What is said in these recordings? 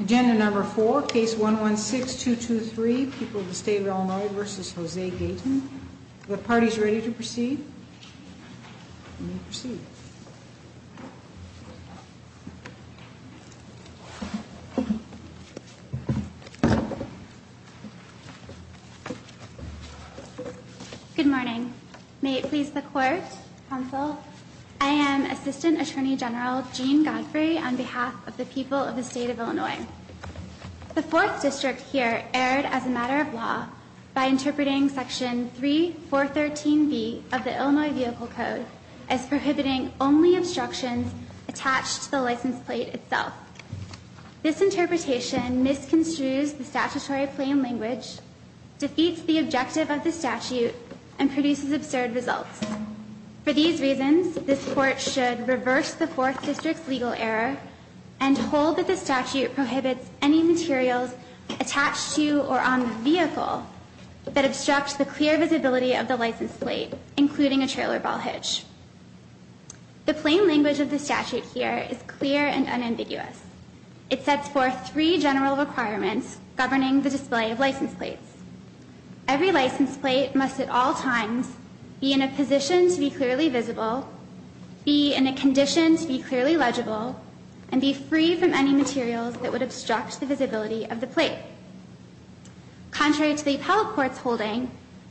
Agenda number 4, case 116223, people of the state of Illinois v. Jose Gaytan. Are the parties ready to proceed? We may proceed. Good morning. May it please the court, counsel, I am Assistant Attorney General Jean Godfrey on behalf of the people of the state of Illinois. The fourth district here erred as a matter of law by interpreting section 3413B of the Illinois Vehicle Code as prohibiting only obstructions attached to the license plate itself. This interpretation misconstrues the statutory plain language, defeats the objective of the statute, and produces absurd results. For these reasons, this court should reverse the fourth district's legal error and hold that the statute prohibits any materials attached to or on the vehicle that obstruct the clear visibility of the license plate, including a trailer ball hitch. The plain language of the statute here is clear and unambiguous. It sets forth three general requirements governing the display of license plates. Every license plate must at all times be in a position to be clearly visible, be in a condition to be clearly legible, and be free from any materials that would obstruct the visibility of the plate. Contrary to the appellate court's holding,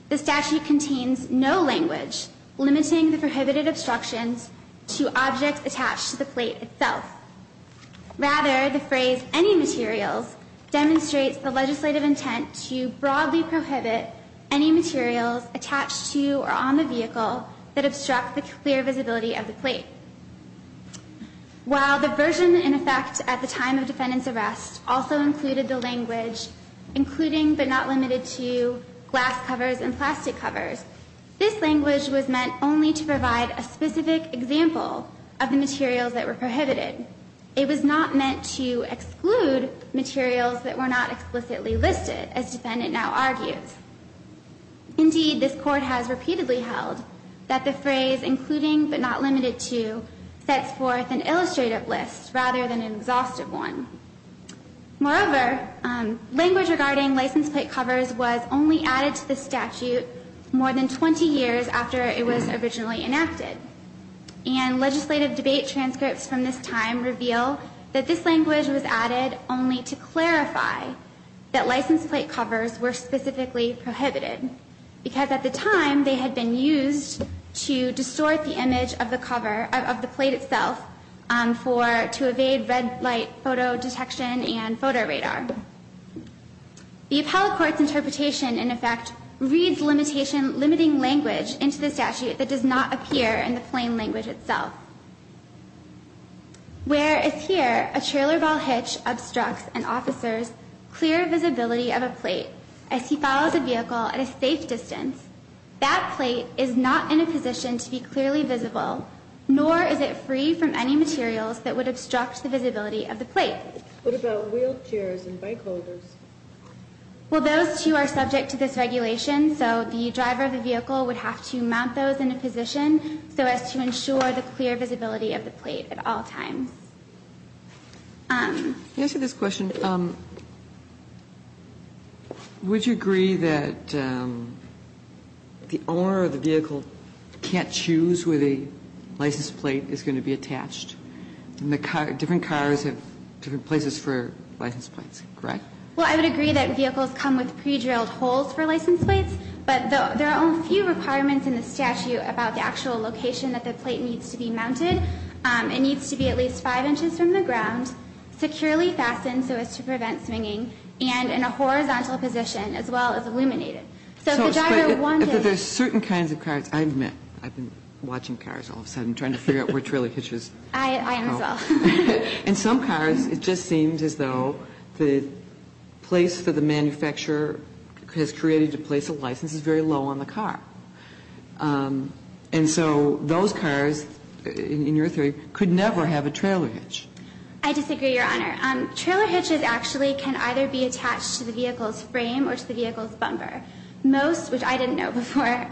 the statute contains no language limiting the prohibited obstructions to objects attached to the plate itself. Rather, the phrase, any materials, demonstrates the legislative intent to broadly prohibit any materials attached to or on the vehicle that obstruct the clear visibility of the plate. While the version in effect at the time of defendant's arrest also included the language including but not limited to glass covers and plastic covers, this language was meant only to provide a specific example of the materials that were prohibited. It was not meant to exclude materials that were not explicitly listed, as defendant now argues. Indeed, this court has repeatedly held that the phrase including but not limited to sets forth an illustrative list rather than an exhaustive one. Moreover, language regarding license plate covers was only added to the statute more than 20 years after it was originally enacted. And legislative debate transcripts from this time reveal that this language was added only to clarify that license plate covers were specifically prohibited, because at the time they had been used to distort the image of the cover, of the plate itself, for, to evade red light photo detection and photo radar. The appellate court's interpretation in effect reads limitation limiting language into the statute that does not appear in the plain language itself. Whereas here a trailer ball hitch obstructs an officer's clear visibility of a plate as he follows a vehicle at a safe distance, that plate is not in a position to be clearly visible, nor is it free from any materials that would obstruct the visibility of the plate. What about wheelchairs and bike holders? Well, those two are subject to this regulation, so the driver of the vehicle would have to mount those in a position so as to ensure the clear visibility of the plate at all times. Can I ask you this question? Would you agree that the owner of the vehicle can't choose where the license plate is going to be attached? And the car, different cars have different places for license plates, correct? Well, I would agree that vehicles come with pre-drilled holes for license plates, but there are only a few requirements in the statute about the actual location that the plate needs to be mounted. It needs to be at least 5 inches from the ground, securely fastened so as to prevent swinging, and in a horizontal position as well as illuminated. So if the driver wanted to. So if there's certain kinds of cars, I admit I've been watching cars all of a sudden trying to figure out where trailer hitch is. I am as well. And some cars, it just seems as though the place that the manufacturer has created to place a license is very low on the car. And so those cars, in your theory, could never have a trailer hitch. I disagree, Your Honor. Trailer hitches actually can either be attached to the vehicle's frame or to the vehicle's bumper. Most, which I didn't know before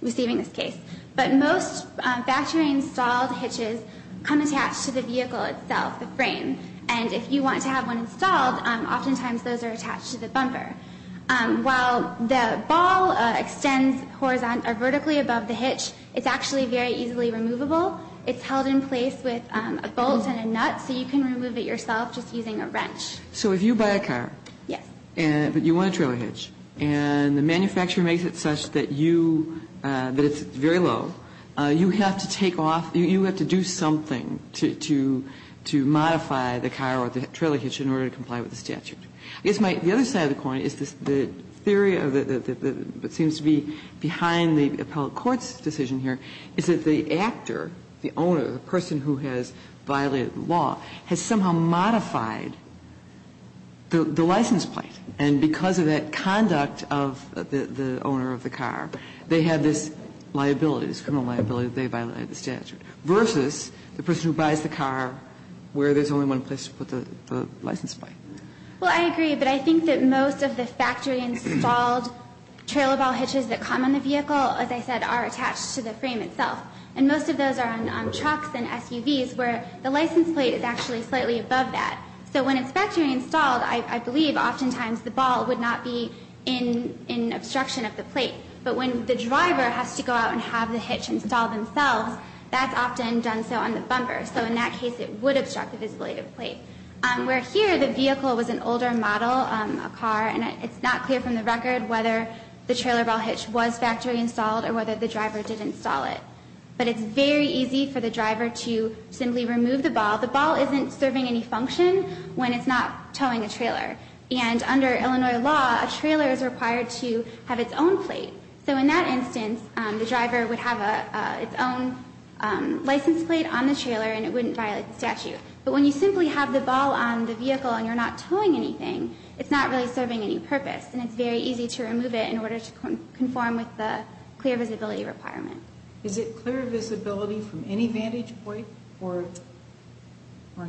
receiving this case. But most factory installed hitches come attached to the vehicle itself, the frame. And if you want to have one installed, oftentimes those are attached to the bumper. While the ball extends vertically above the hitch, it's actually very easily removable. It's held in place with a bolt and a nut so you can remove it yourself just using a wrench. So if you buy a car. Yes. But you want a trailer hitch. And the manufacturer makes it such that you, that it's very low, you have to take off, you have to do something to modify the car or the trailer hitch in order to comply with the statute. I guess the other side of the coin is the theory that seems to be behind the appellate court's decision here is that the actor, the owner, the person who has violated the law, has somehow modified the license plate. And because of that conduct of the owner of the car, they have this liability, this criminal liability that they violated the statute, versus the person who buys the car where there's only one place to put the license plate. Well, I agree. But I think that most of the factory installed trailer ball hitches that come on the vehicle, as I said, are attached to the frame itself. And most of those are on trucks and SUVs where the license plate is actually slightly above that. So when it's factory installed, I believe oftentimes the ball would not be in obstruction of the plate. But when the driver has to go out and have the hitch installed themselves, that's often done so on the bumper. So in that case, it would obstruct the visibility of the plate. Where here, the vehicle was an older model, a car, and it's not clear from the record whether the trailer ball hitch was factory installed or whether the driver did install it. But it's very easy for the driver to simply remove the ball. The ball isn't serving any function when it's not towing a trailer. And under Illinois law, a trailer is required to have its own plate. So in that instance, the driver would have its own license plate on the trailer, and it wouldn't violate the statute. But when you simply have the ball on the vehicle and you're not towing anything, it's not really serving any purpose. And it's very easy to remove it in order to conform with the clear visibility requirement. Is it clear visibility from any vantage point or not?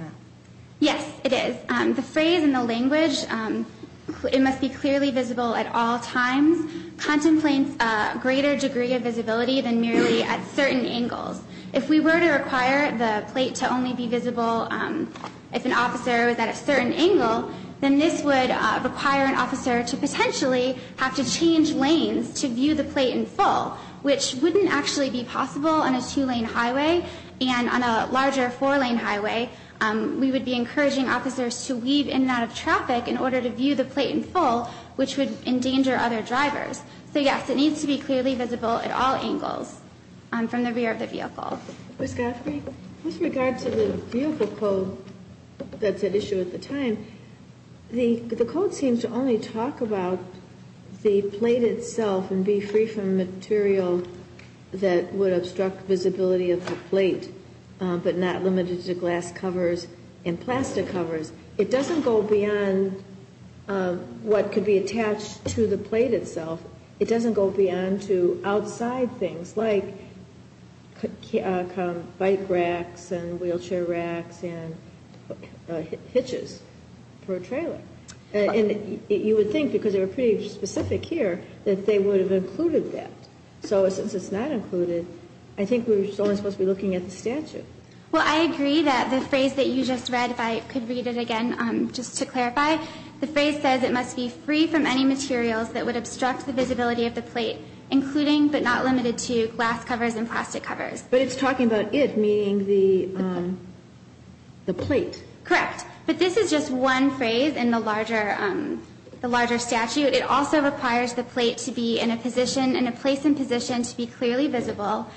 Yes, it is. The phrase and the language, it must be clearly visible at all times, contemplates a greater degree of visibility than merely at certain angles. If we were to require the plate to only be visible if an officer was at a certain angle, then this would require an officer to potentially have to change lanes to be able to see the plate in full. So it wouldn't actually be possible on a two-lane highway and on a larger four-lane highway. We would be encouraging officers to weave in and out of traffic in order to view the plate in full, which would endanger other drivers. So, yes, it needs to be clearly visible at all angles from the rear of the vehicle. Ms. Godfrey? With regard to the vehicle code that's at issue at the time, the code seems to only talk about the plate itself and be free from material that would obstruct visibility of the plate, but not limited to glass covers and plastic covers. It doesn't go beyond what could be attached to the plate itself. It doesn't go beyond to outside things like bike racks and wheelchair racks and hitches for a trailer. And you would think, because they were pretty specific here, that they would have included that. So since it's not included, I think we're only supposed to be looking at the statute. Well, I agree that the phrase that you just read, if I could read it again just to clarify, the phrase says it must be free from any materials that would obstruct the visibility of the plate, including but not limited to glass covers and plastic covers. But it's talking about it, meaning the plate. Correct. But this is just one phrase in the larger statute. It also requires the plate to be in a place and position to be clearly visible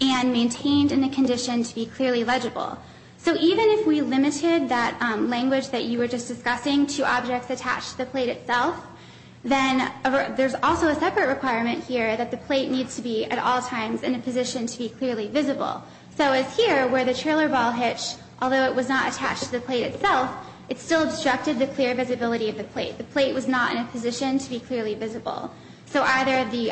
and maintained in a condition to be clearly legible. So even if we limited that language that you were just discussing to objects attached to the plate itself, then there's also a separate requirement here that the plate needs to be at all times in a position to be clearly visible. So as here, where the trailer ball hitch, although it was not attached to the plate itself, it still obstructed the clear visibility of the plate. The plate was not in a position to be clearly visible. So either the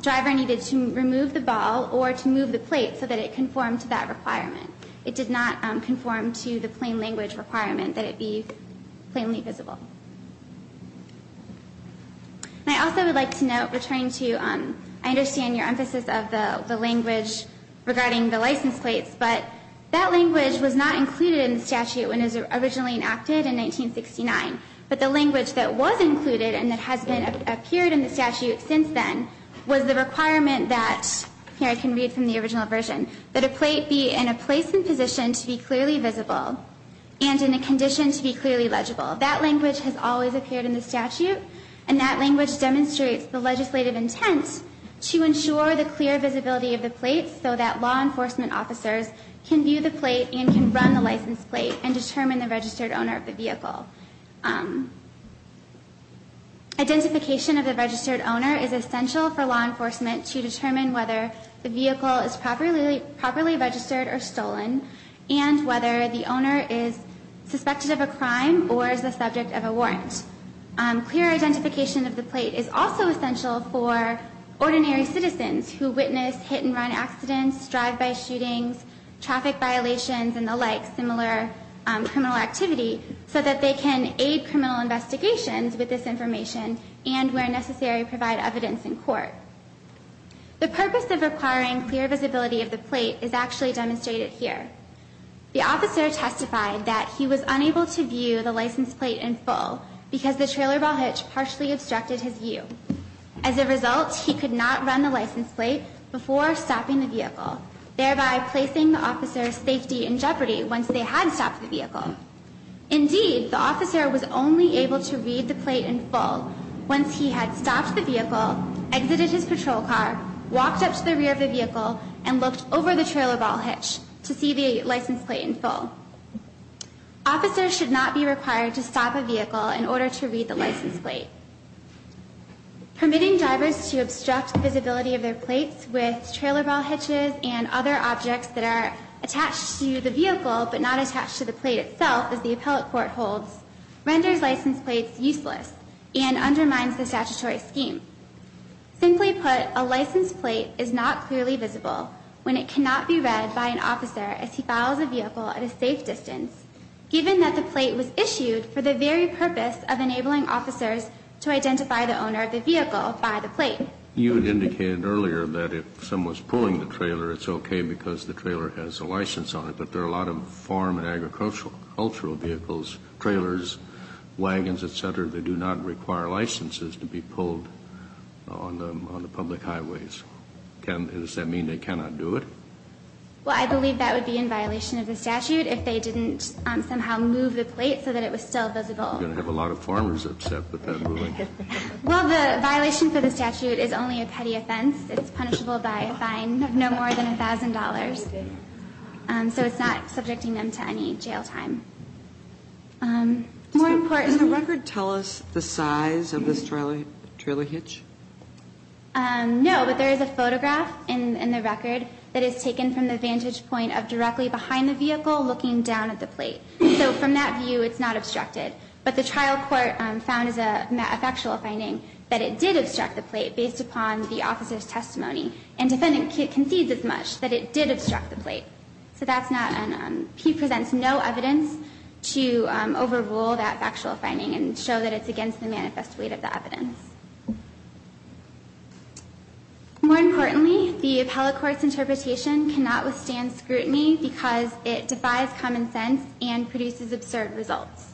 driver needed to remove the ball or to move the plate so that it conformed to that requirement. It did not conform to the plain language requirement that it be plainly visible. And I also would like to note, returning to, I understand your emphasis of the license plates, but that language was not included in the statute when it was originally enacted in 1969. But the language that was included and that has appeared in the statute since then was the requirement that, here I can read from the original version, that a plate be in a place and position to be clearly visible and in a condition to be clearly legible. That language has always appeared in the statute. And that language demonstrates the legislative intent to ensure the clear visibility of the plate so that law enforcement officers can view the plate and can run the license plate and determine the registered owner of the vehicle. Identification of the registered owner is essential for law enforcement to determine whether the vehicle is properly registered or stolen and whether the owner is suspected of a crime or is the subject of a warrant. Clear identification of the plate is also essential for ordinary citizens who witness hit-and-run accidents, drive-by shootings, traffic violations, and the like, similar criminal activity, so that they can aid criminal investigations with this information and, where necessary, provide evidence in court. The purpose of requiring clear visibility of the plate is actually demonstrated here. The officer testified that he was unable to view the license plate in full because the trailer ball hitch partially obstructed his view. As a result, he could not run the license plate before stopping the vehicle, thereby placing the officer's safety in jeopardy once they had stopped the vehicle. Indeed, the officer was only able to read the plate in full once he had stopped the vehicle, exited his patrol car, walked up to the rear of the vehicle, and looked over the trailer ball hitch to see the license plate in full. Officers should not be required to stop a vehicle in order to read the license plate. Permitting drivers to obstruct the visibility of their plates with trailer ball hitches and other objects that are attached to the vehicle but not attached to the plate itself, as the appellate court holds, renders license plates useless and undermines the statutory scheme. Simply put, a license plate is not clearly visible when it cannot be read by an officer as he follows a vehicle at a safe distance, given that the plate was attached to the vehicle. The only way to identify a license plate is to identify the owner of the vehicle by the plate. You indicated earlier that if someone's pulling the trailer, it's okay because the trailer has a license on it, but there are a lot of farm and agricultural vehicles, trailers, wagons, et cetera, that do not require licenses to be pulled on the public highways. Does that mean they cannot do it? Well, I believe that would be in violation of the statute if they didn't somehow move the plate so that it was still visible. You're going to have a lot of farmers upset with that ruling. Well, the violation for the statute is only a petty offense. It's punishable by a fine of no more than $1,000. So it's not subjecting them to any jail time. More importantly Can the record tell us the size of this trailer hitch? No, but there is a photograph in the record that is taken from the vantage point of directly behind the vehicle looking down at the plate. So from that view, it's not obstructed. But the trial court found as a factual finding that it did obstruct the plate based upon the officer's testimony. And defendant concedes as much that it did obstruct the plate. So that's not an he presents no evidence to overrule that factual finding and show that it's against the manifest weight of the evidence. More importantly, the appellate court's interpretation cannot withstand scrutiny because it defies common sense and produces absurd results.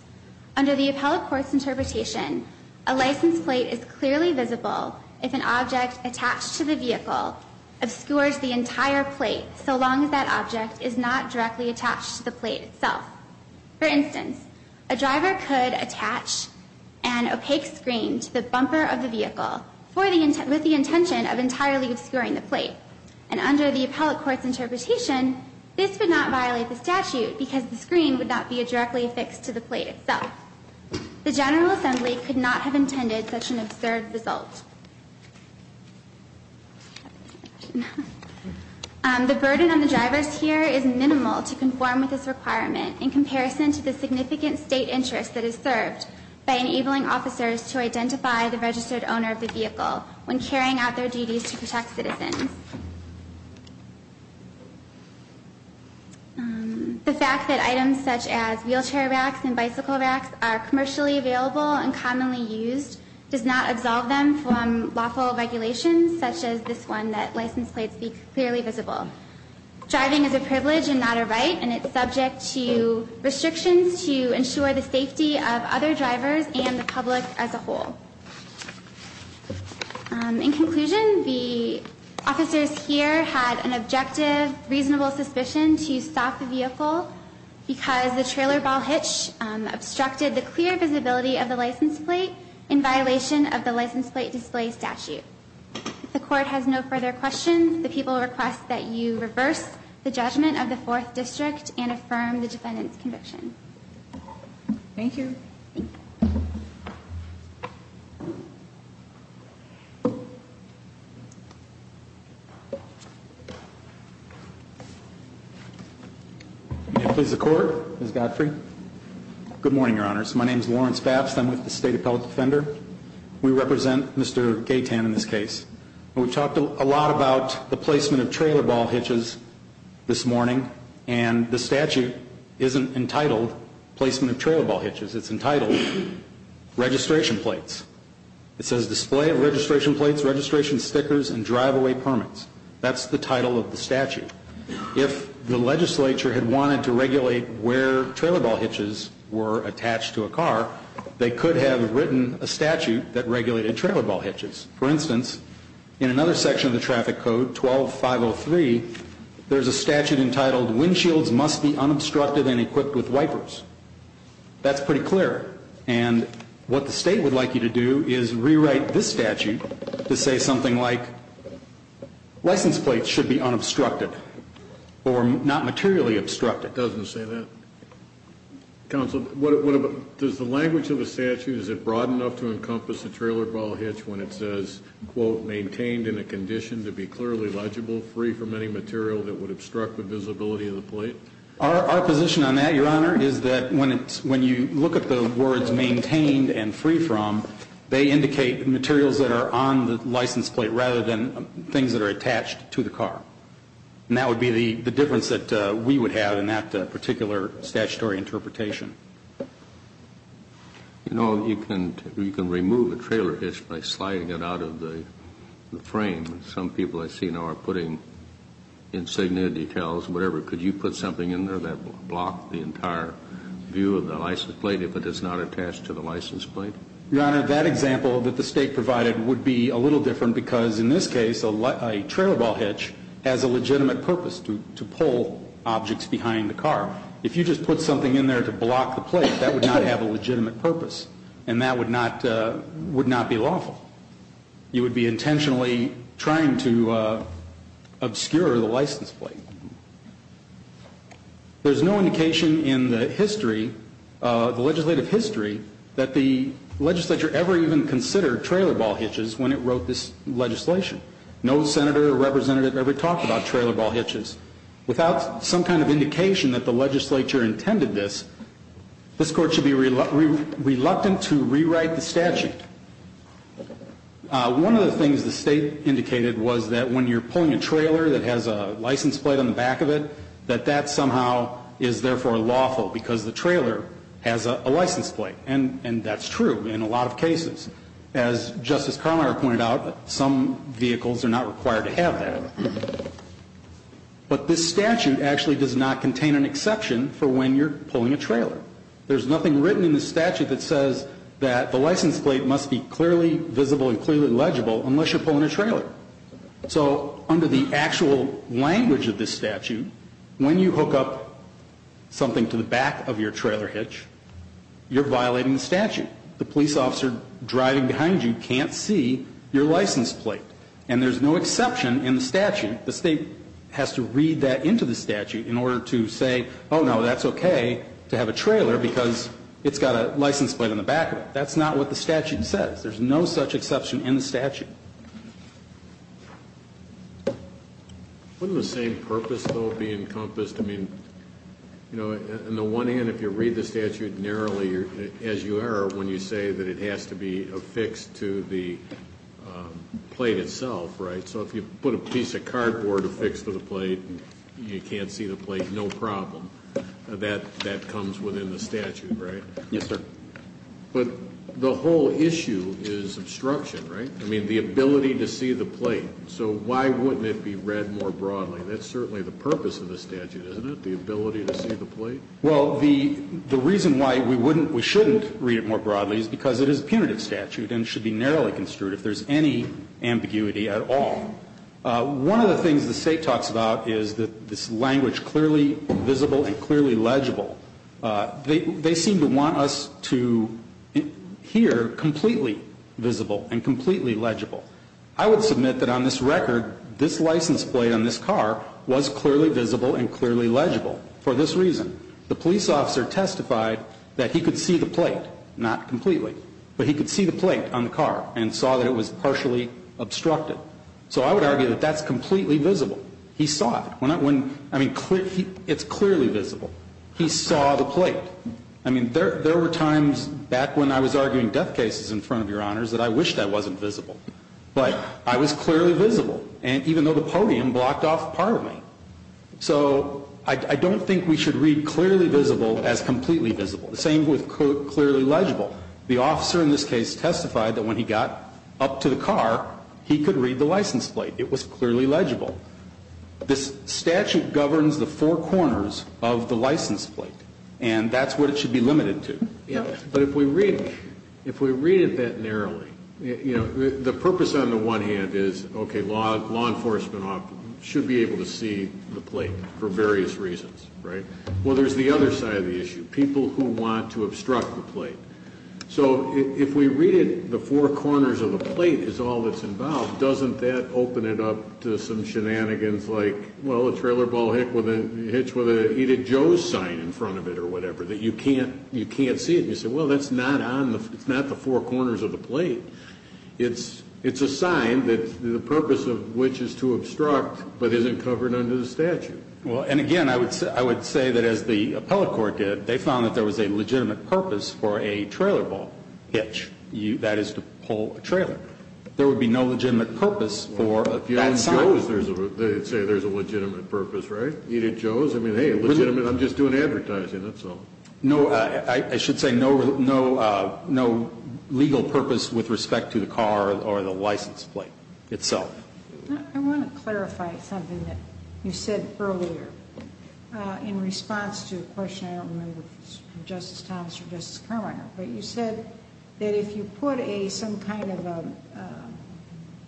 Under the appellate court's interpretation, a license plate is clearly visible if an object attached to the vehicle obscures the entire plate so long as that object is not directly attached to the plate itself. For instance, a driver could attach an opaque screen to the bumper of the vehicle with the intention of entirely obscuring the plate. And under the appellate court's interpretation, this would not violate the statute because the screen would not be directly affixed to the plate itself. The General Assembly could not have intended such an absurd result. The burden on the drivers here is minimal to conform with this requirement in comparison to the significant state interest that is served by enabling officers to identify the registered owner of the vehicle when carrying out their duties to protect citizens. The fact that items such as wheelchair racks and bicycle racks are commercially available and commonly used does not absolve them from lawful regulations such as this one that license plates be clearly visible. Driving is a privilege and not a right, and it's subject to restrictions to ensure the safety of other drivers and the public as a whole. In conclusion, the officers here had an objective, reasonable suspicion to stop the vehicle because the trailer ball hitch obstructed the clear visibility of the license plate in violation of the license plate display statute. If the court has no further questions, the people request that you reverse the judgment of the Fourth District and affirm the defendant's conviction. Thank you. May it please the Court, Ms. Godfrey. Good morning, Your Honors. My name is Lawrence Babst. I'm with the State Appellate Defender. We represent Mr. Gaytan in this case. We've talked a lot about the placement of trailer ball hitches this morning, and the statute isn't entitled Placement of Trailer Ball Hitches. It's entitled Registration Plates. It says, Display of Registration Plates, Registration Stickers, and Driveway Permits. That's the title of the statute. If the legislature had wanted to regulate where trailer ball hitches were attached to a car, they could have written a statute that regulated trailer ball hitches. For instance, in another section of the traffic code, 12-503, there's a statute entitled, Windshields Must Be Unobstructed and Equipped with Wipers. That's pretty clear. And what the State would like you to do is rewrite this statute to say something like, License Plates Should Be Unobstructed or Not Materially Obstructed. It doesn't say that. Counsel, does the language of the statute, is it broad enough to encompass a trailer ball hitch when it says, quote, Maintained in a condition to be clearly legible, free from any material that would obstruct the visibility of the plate? Our position on that, Your Honor, is that when you look at the words maintained and free from, they indicate materials that are on the license plate rather than things that are attached to the car. And that would be the difference that we would have in that particular statutory interpretation. You know, you can remove a trailer hitch by sliding it out of the frame. Some people I see now are putting insignia, details, whatever. Could you put something in there that would block the entire view of the license plate if it is not attached to the license plate? Your Honor, that example that the State provided would be a little different because, in this case, a trailer ball hitch has a legitimate purpose to pull objects behind the car. If you just put something in there to block the plate, that would not have a legitimate purpose, and that would not be lawful. You would be intentionally trying to obscure the license plate. There's no indication in the history, the legislative history, that the legislature ever even considered trailer ball hitches when it wrote this legislation. No senator or representative ever talked about trailer ball hitches. Without some kind of indication that the legislature intended this, this Court should be reluctant to rewrite the statute. One of the things the State indicated was that when you're pulling a trailer that has a license plate on the back of it, that that somehow is therefore lawful because the trailer has a license plate. And that's true in a lot of cases. As Justice Carminer pointed out, some vehicles are not required to have that. But this statute actually does not contain an exception for when you're pulling a trailer. There's nothing written in the statute that says that the license plate must be clearly visible and clearly legible unless you're pulling a trailer. So under the actual language of this statute, when you hook up something to the back of your trailer hitch, you're violating the statute. The police officer driving behind you can't see your license plate. And there's no exception in the statute. The State has to read that into the statute in order to say, oh, no, that's okay to have a trailer because it's got a license plate on the back of it. That's not what the statute says. There's no such exception in the statute. Wouldn't the same purpose, though, be encompassed? I mean, you know, on the one hand, if you read the statute narrowly as you are when you say that it has to be affixed to the plate itself, right, so if you put a piece of cardboard affixed to the plate and you can't see the plate, no problem, that comes within the statute, right? Yes, sir. But the whole issue is obstruction, right? I mean, the ability to see the plate. So why wouldn't it be read more broadly? That's certainly the purpose of the statute, isn't it, the ability to see the plate? Well, the reason why we wouldn't, we shouldn't read it more broadly is because it is a punitive statute and should be narrowly construed if there's any ambiguity at all. One of the things the State talks about is that this language, clearly visible and clearly legible, they seem to want us to hear completely visible and completely legible. I would submit that on this record, this license plate on this car was clearly visible and clearly legible for this reason. The police officer testified that he could see the plate, not completely, but he could see the plate on the car and saw that it was partially obstructed. So I would argue that that's completely visible. He saw it. I mean, it's clearly visible. He saw the plate. I mean, there were times back when I was arguing death cases in front of Your Honors that I wished I wasn't visible. But I was clearly visible, and even though the podium blocked off part of me. So I don't think we should read clearly visible as completely visible. The same with clearly legible. The officer in this case testified that when he got up to the car, he could read the license plate. It was clearly legible. This statute governs the four corners of the license plate, and that's what it should be limited to. But if we read it that narrowly, you know, the purpose on the one hand is, okay, law enforcement should be able to see the plate for various reasons, right? Well, there's the other side of the issue. People who want to obstruct the plate. So if we read it the four corners of the plate is all that's involved, doesn't that open it up to some shenanigans like, well, a trailer ball hitched with an Edith Joes sign in front of it or whatever, that you can't see it. And you say, well, that's not the four corners of the plate. It's a sign that the purpose of which is to obstruct but isn't covered under the statute. Well, and again, I would say that as the appellate court did, they found that there was a legitimate purpose for a trailer ball hitch. That is to pull a trailer. There would be no legitimate purpose for that sign. Well, if you had Joes, they'd say there's a legitimate purpose, right? Edith Joes. I mean, hey, legitimate, I'm just doing advertising. That's all. No, I should say no legal purpose with respect to the car or the license plate itself. I want to clarify something that you said earlier in response to a question I don't remember if it was from Justice Thomas or Justice Carminer. But you said that if you put some kind of a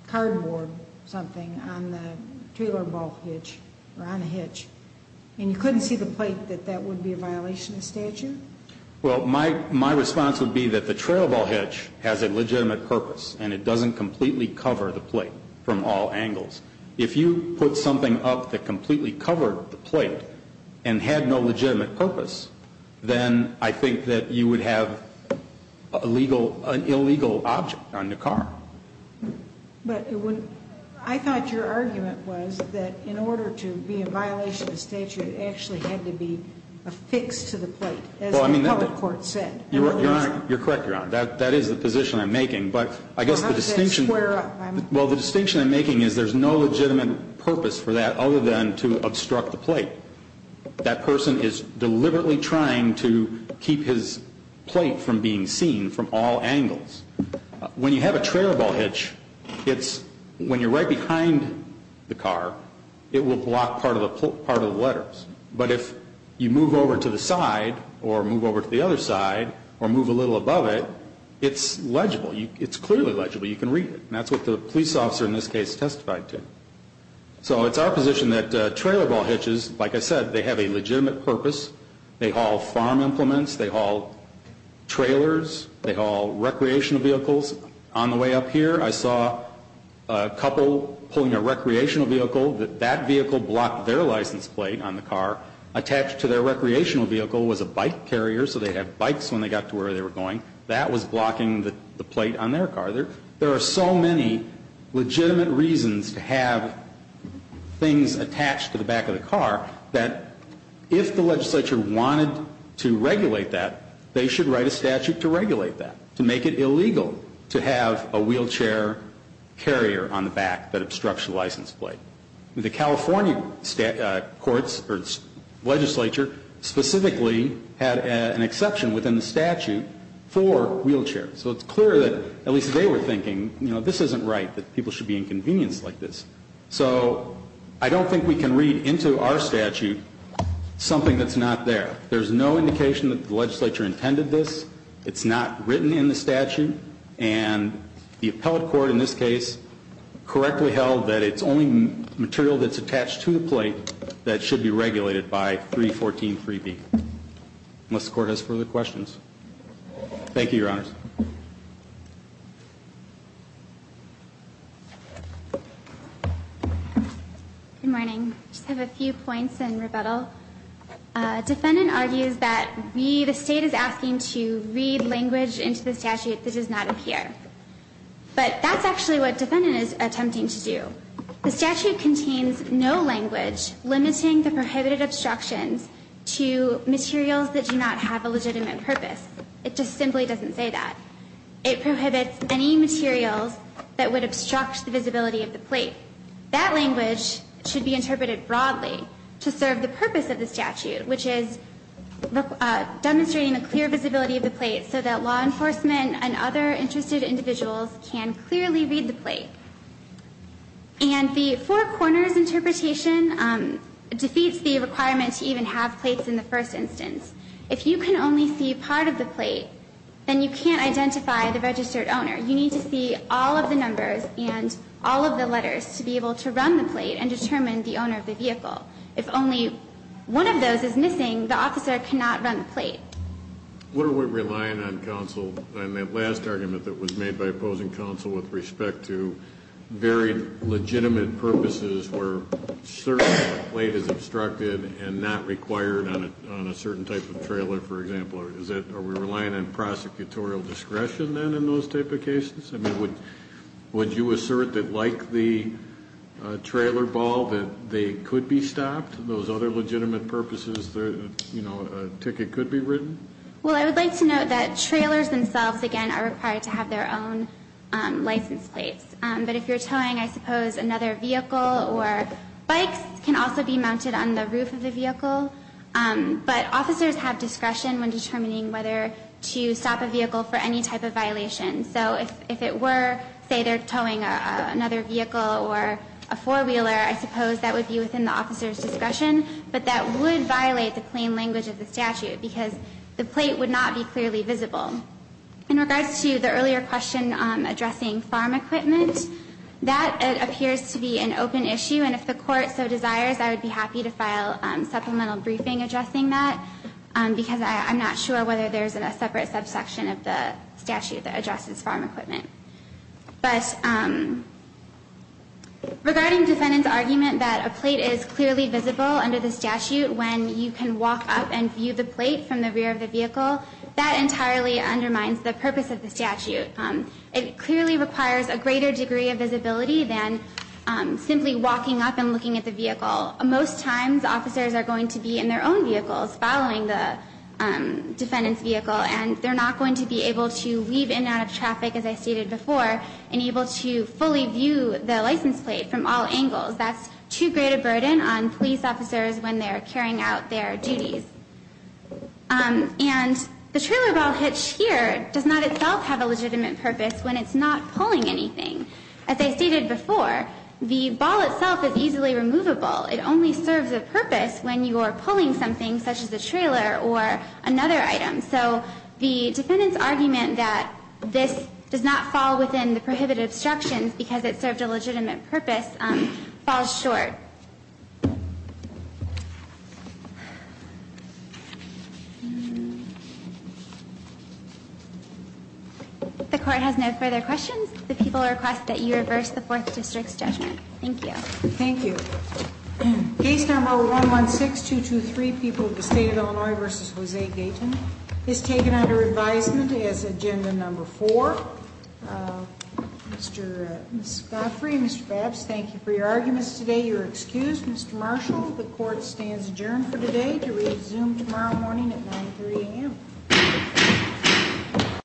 cardboard something on the trailer ball hitch or on a hitch and you couldn't see the plate, that that would be a violation of statute? Well, my response would be that the trailer ball hitch has a legitimate purpose and it doesn't completely cover the plate from all angles. If you put something up that completely covered the plate and had no legitimate purpose, then I think that you would have an illegal object on the car. But I thought your argument was that in order to be a violation of statute, it actually had to be affixed to the plate, as the appellate court said. You're correct, Your Honor. That is the position I'm making. But I guess the distinction I'm making is there's no legitimate purpose for that other than to obstruct the plate. That person is deliberately trying to keep his plate from being seen from all angles. When you have a trailer ball hitch, when you're right behind the car, it will block part of the letters. But if you move over to the side or move over to the other side or move a little above it, it's legible. It's clearly legible. You can read it. And that's what the police officer in this case testified to. So it's our position that trailer ball hitches, like I said, they have a legitimate purpose. They haul farm implements. They haul trailers. They haul recreational vehicles. On the way up here, I saw a couple pulling a recreational vehicle. That vehicle blocked their license plate on the car. Attached to their recreational vehicle was a bike carrier. So they had bikes when they got to where they were going. That was blocking the plate on their car. There are so many legitimate reasons to have things attached to the back of the car that if the legislature wanted to regulate that, they should write a statute to regulate that, to make it illegal to have a wheelchair carrier on the back that obstructs the license plate. The California courts or legislature specifically had an exception within the statute for wheelchairs. So it's clear that at least they were thinking, you know, this isn't right, that people should be inconvenienced like this. So I don't think we can read into our statute something that's not there. There's no indication that the legislature intended this. It's not written in the statute. And the appellate court in this case correctly held that it's only material that's attached to the plate that should be regulated by 3143B. Unless the court has further questions. Thank you, Your Honors. Good morning. I just have a few points in rebuttal. Defendant argues that we, the State is asking to read language into the statute that does not appear. But that's actually what defendant is attempting to do. The statute contains no language limiting the prohibited obstructions to materials that do not have a legitimate purpose. It just simply doesn't say that. It prohibits any materials that would obstruct the visibility of the plate. That language should be interpreted broadly to serve the purpose of the statute, which is demonstrating the clear visibility of the plate so that law enforcement and other interested individuals can clearly read the plate. And the four corners interpretation defeats the requirement to even have plates in the first instance. If you can only see part of the plate, then you can't identify the registered owner. You need to see all of the numbers and all of the letters to be able to run the plate and determine the owner of the vehicle. If only one of those is missing, the officer cannot run the plate. What are we relying on, counsel, on that last argument that was made by opposing counsel with respect to very legitimate purposes where certain plate is obstructed and not required on a certain type of trailer, for example? Are we relying on prosecutorial discretion then in those type of cases? I mean, would you assert that, like the trailer ball, that they could be stopped, those other legitimate purposes that, you know, a ticket could be written? Well, I would like to note that trailers themselves, again, are required to have their own license plates. But if you're towing, I suppose, another vehicle or bikes can also be mounted on the roof of the vehicle. But officers have discretion when determining whether to stop a vehicle for any type of violation. So if it were, say, they're towing another vehicle or a four-wheeler, I suppose that would be within the officer's discretion. But that would violate the plain language of the statute because the plate would not be clearly visible. In regards to the earlier question addressing farm equipment, that appears to be an open issue. And if the court so desires, I would be happy to file supplemental briefing addressing that because I'm not sure whether there's a separate subsection of the statute that addresses farm equipment. But regarding defendant's argument that a plate is clearly visible under the statute when you can walk up and view the plate from the rear of the vehicle, that entirely undermines the purpose of the statute. It clearly requires a greater degree of visibility than simply walking up and looking at the vehicle. Most times, officers are going to be in their own vehicles following the defendant's vehicle, and they're not going to be able to weave in and out of traffic, as I stated before, and able to fully view the license plate from all angles. That's too great a burden on police officers when they're carrying out their duties. And the trailer ball hitch here does not itself have a legitimate purpose when it's not pulling anything. As I stated before, the ball itself is easily removable. It only serves a purpose when you are pulling something such as a trailer or another item. So the defendant's argument that this does not fall within the prohibited obstructions because it served a legitimate purpose falls short. If the Court has no further questions, the people request that you reverse the Fourth District's judgment. Thank you. Thank you. Case number 116223, people of the State of Illinois v. Jose Gayton, is taken under advisement as agenda number four. Mr. Scoffrey, Mr. Babs, thank you for your arguments today. You're excused. Mr. Marshall, the Court stands adjourned for today to resume tomorrow morning at 9 a.m.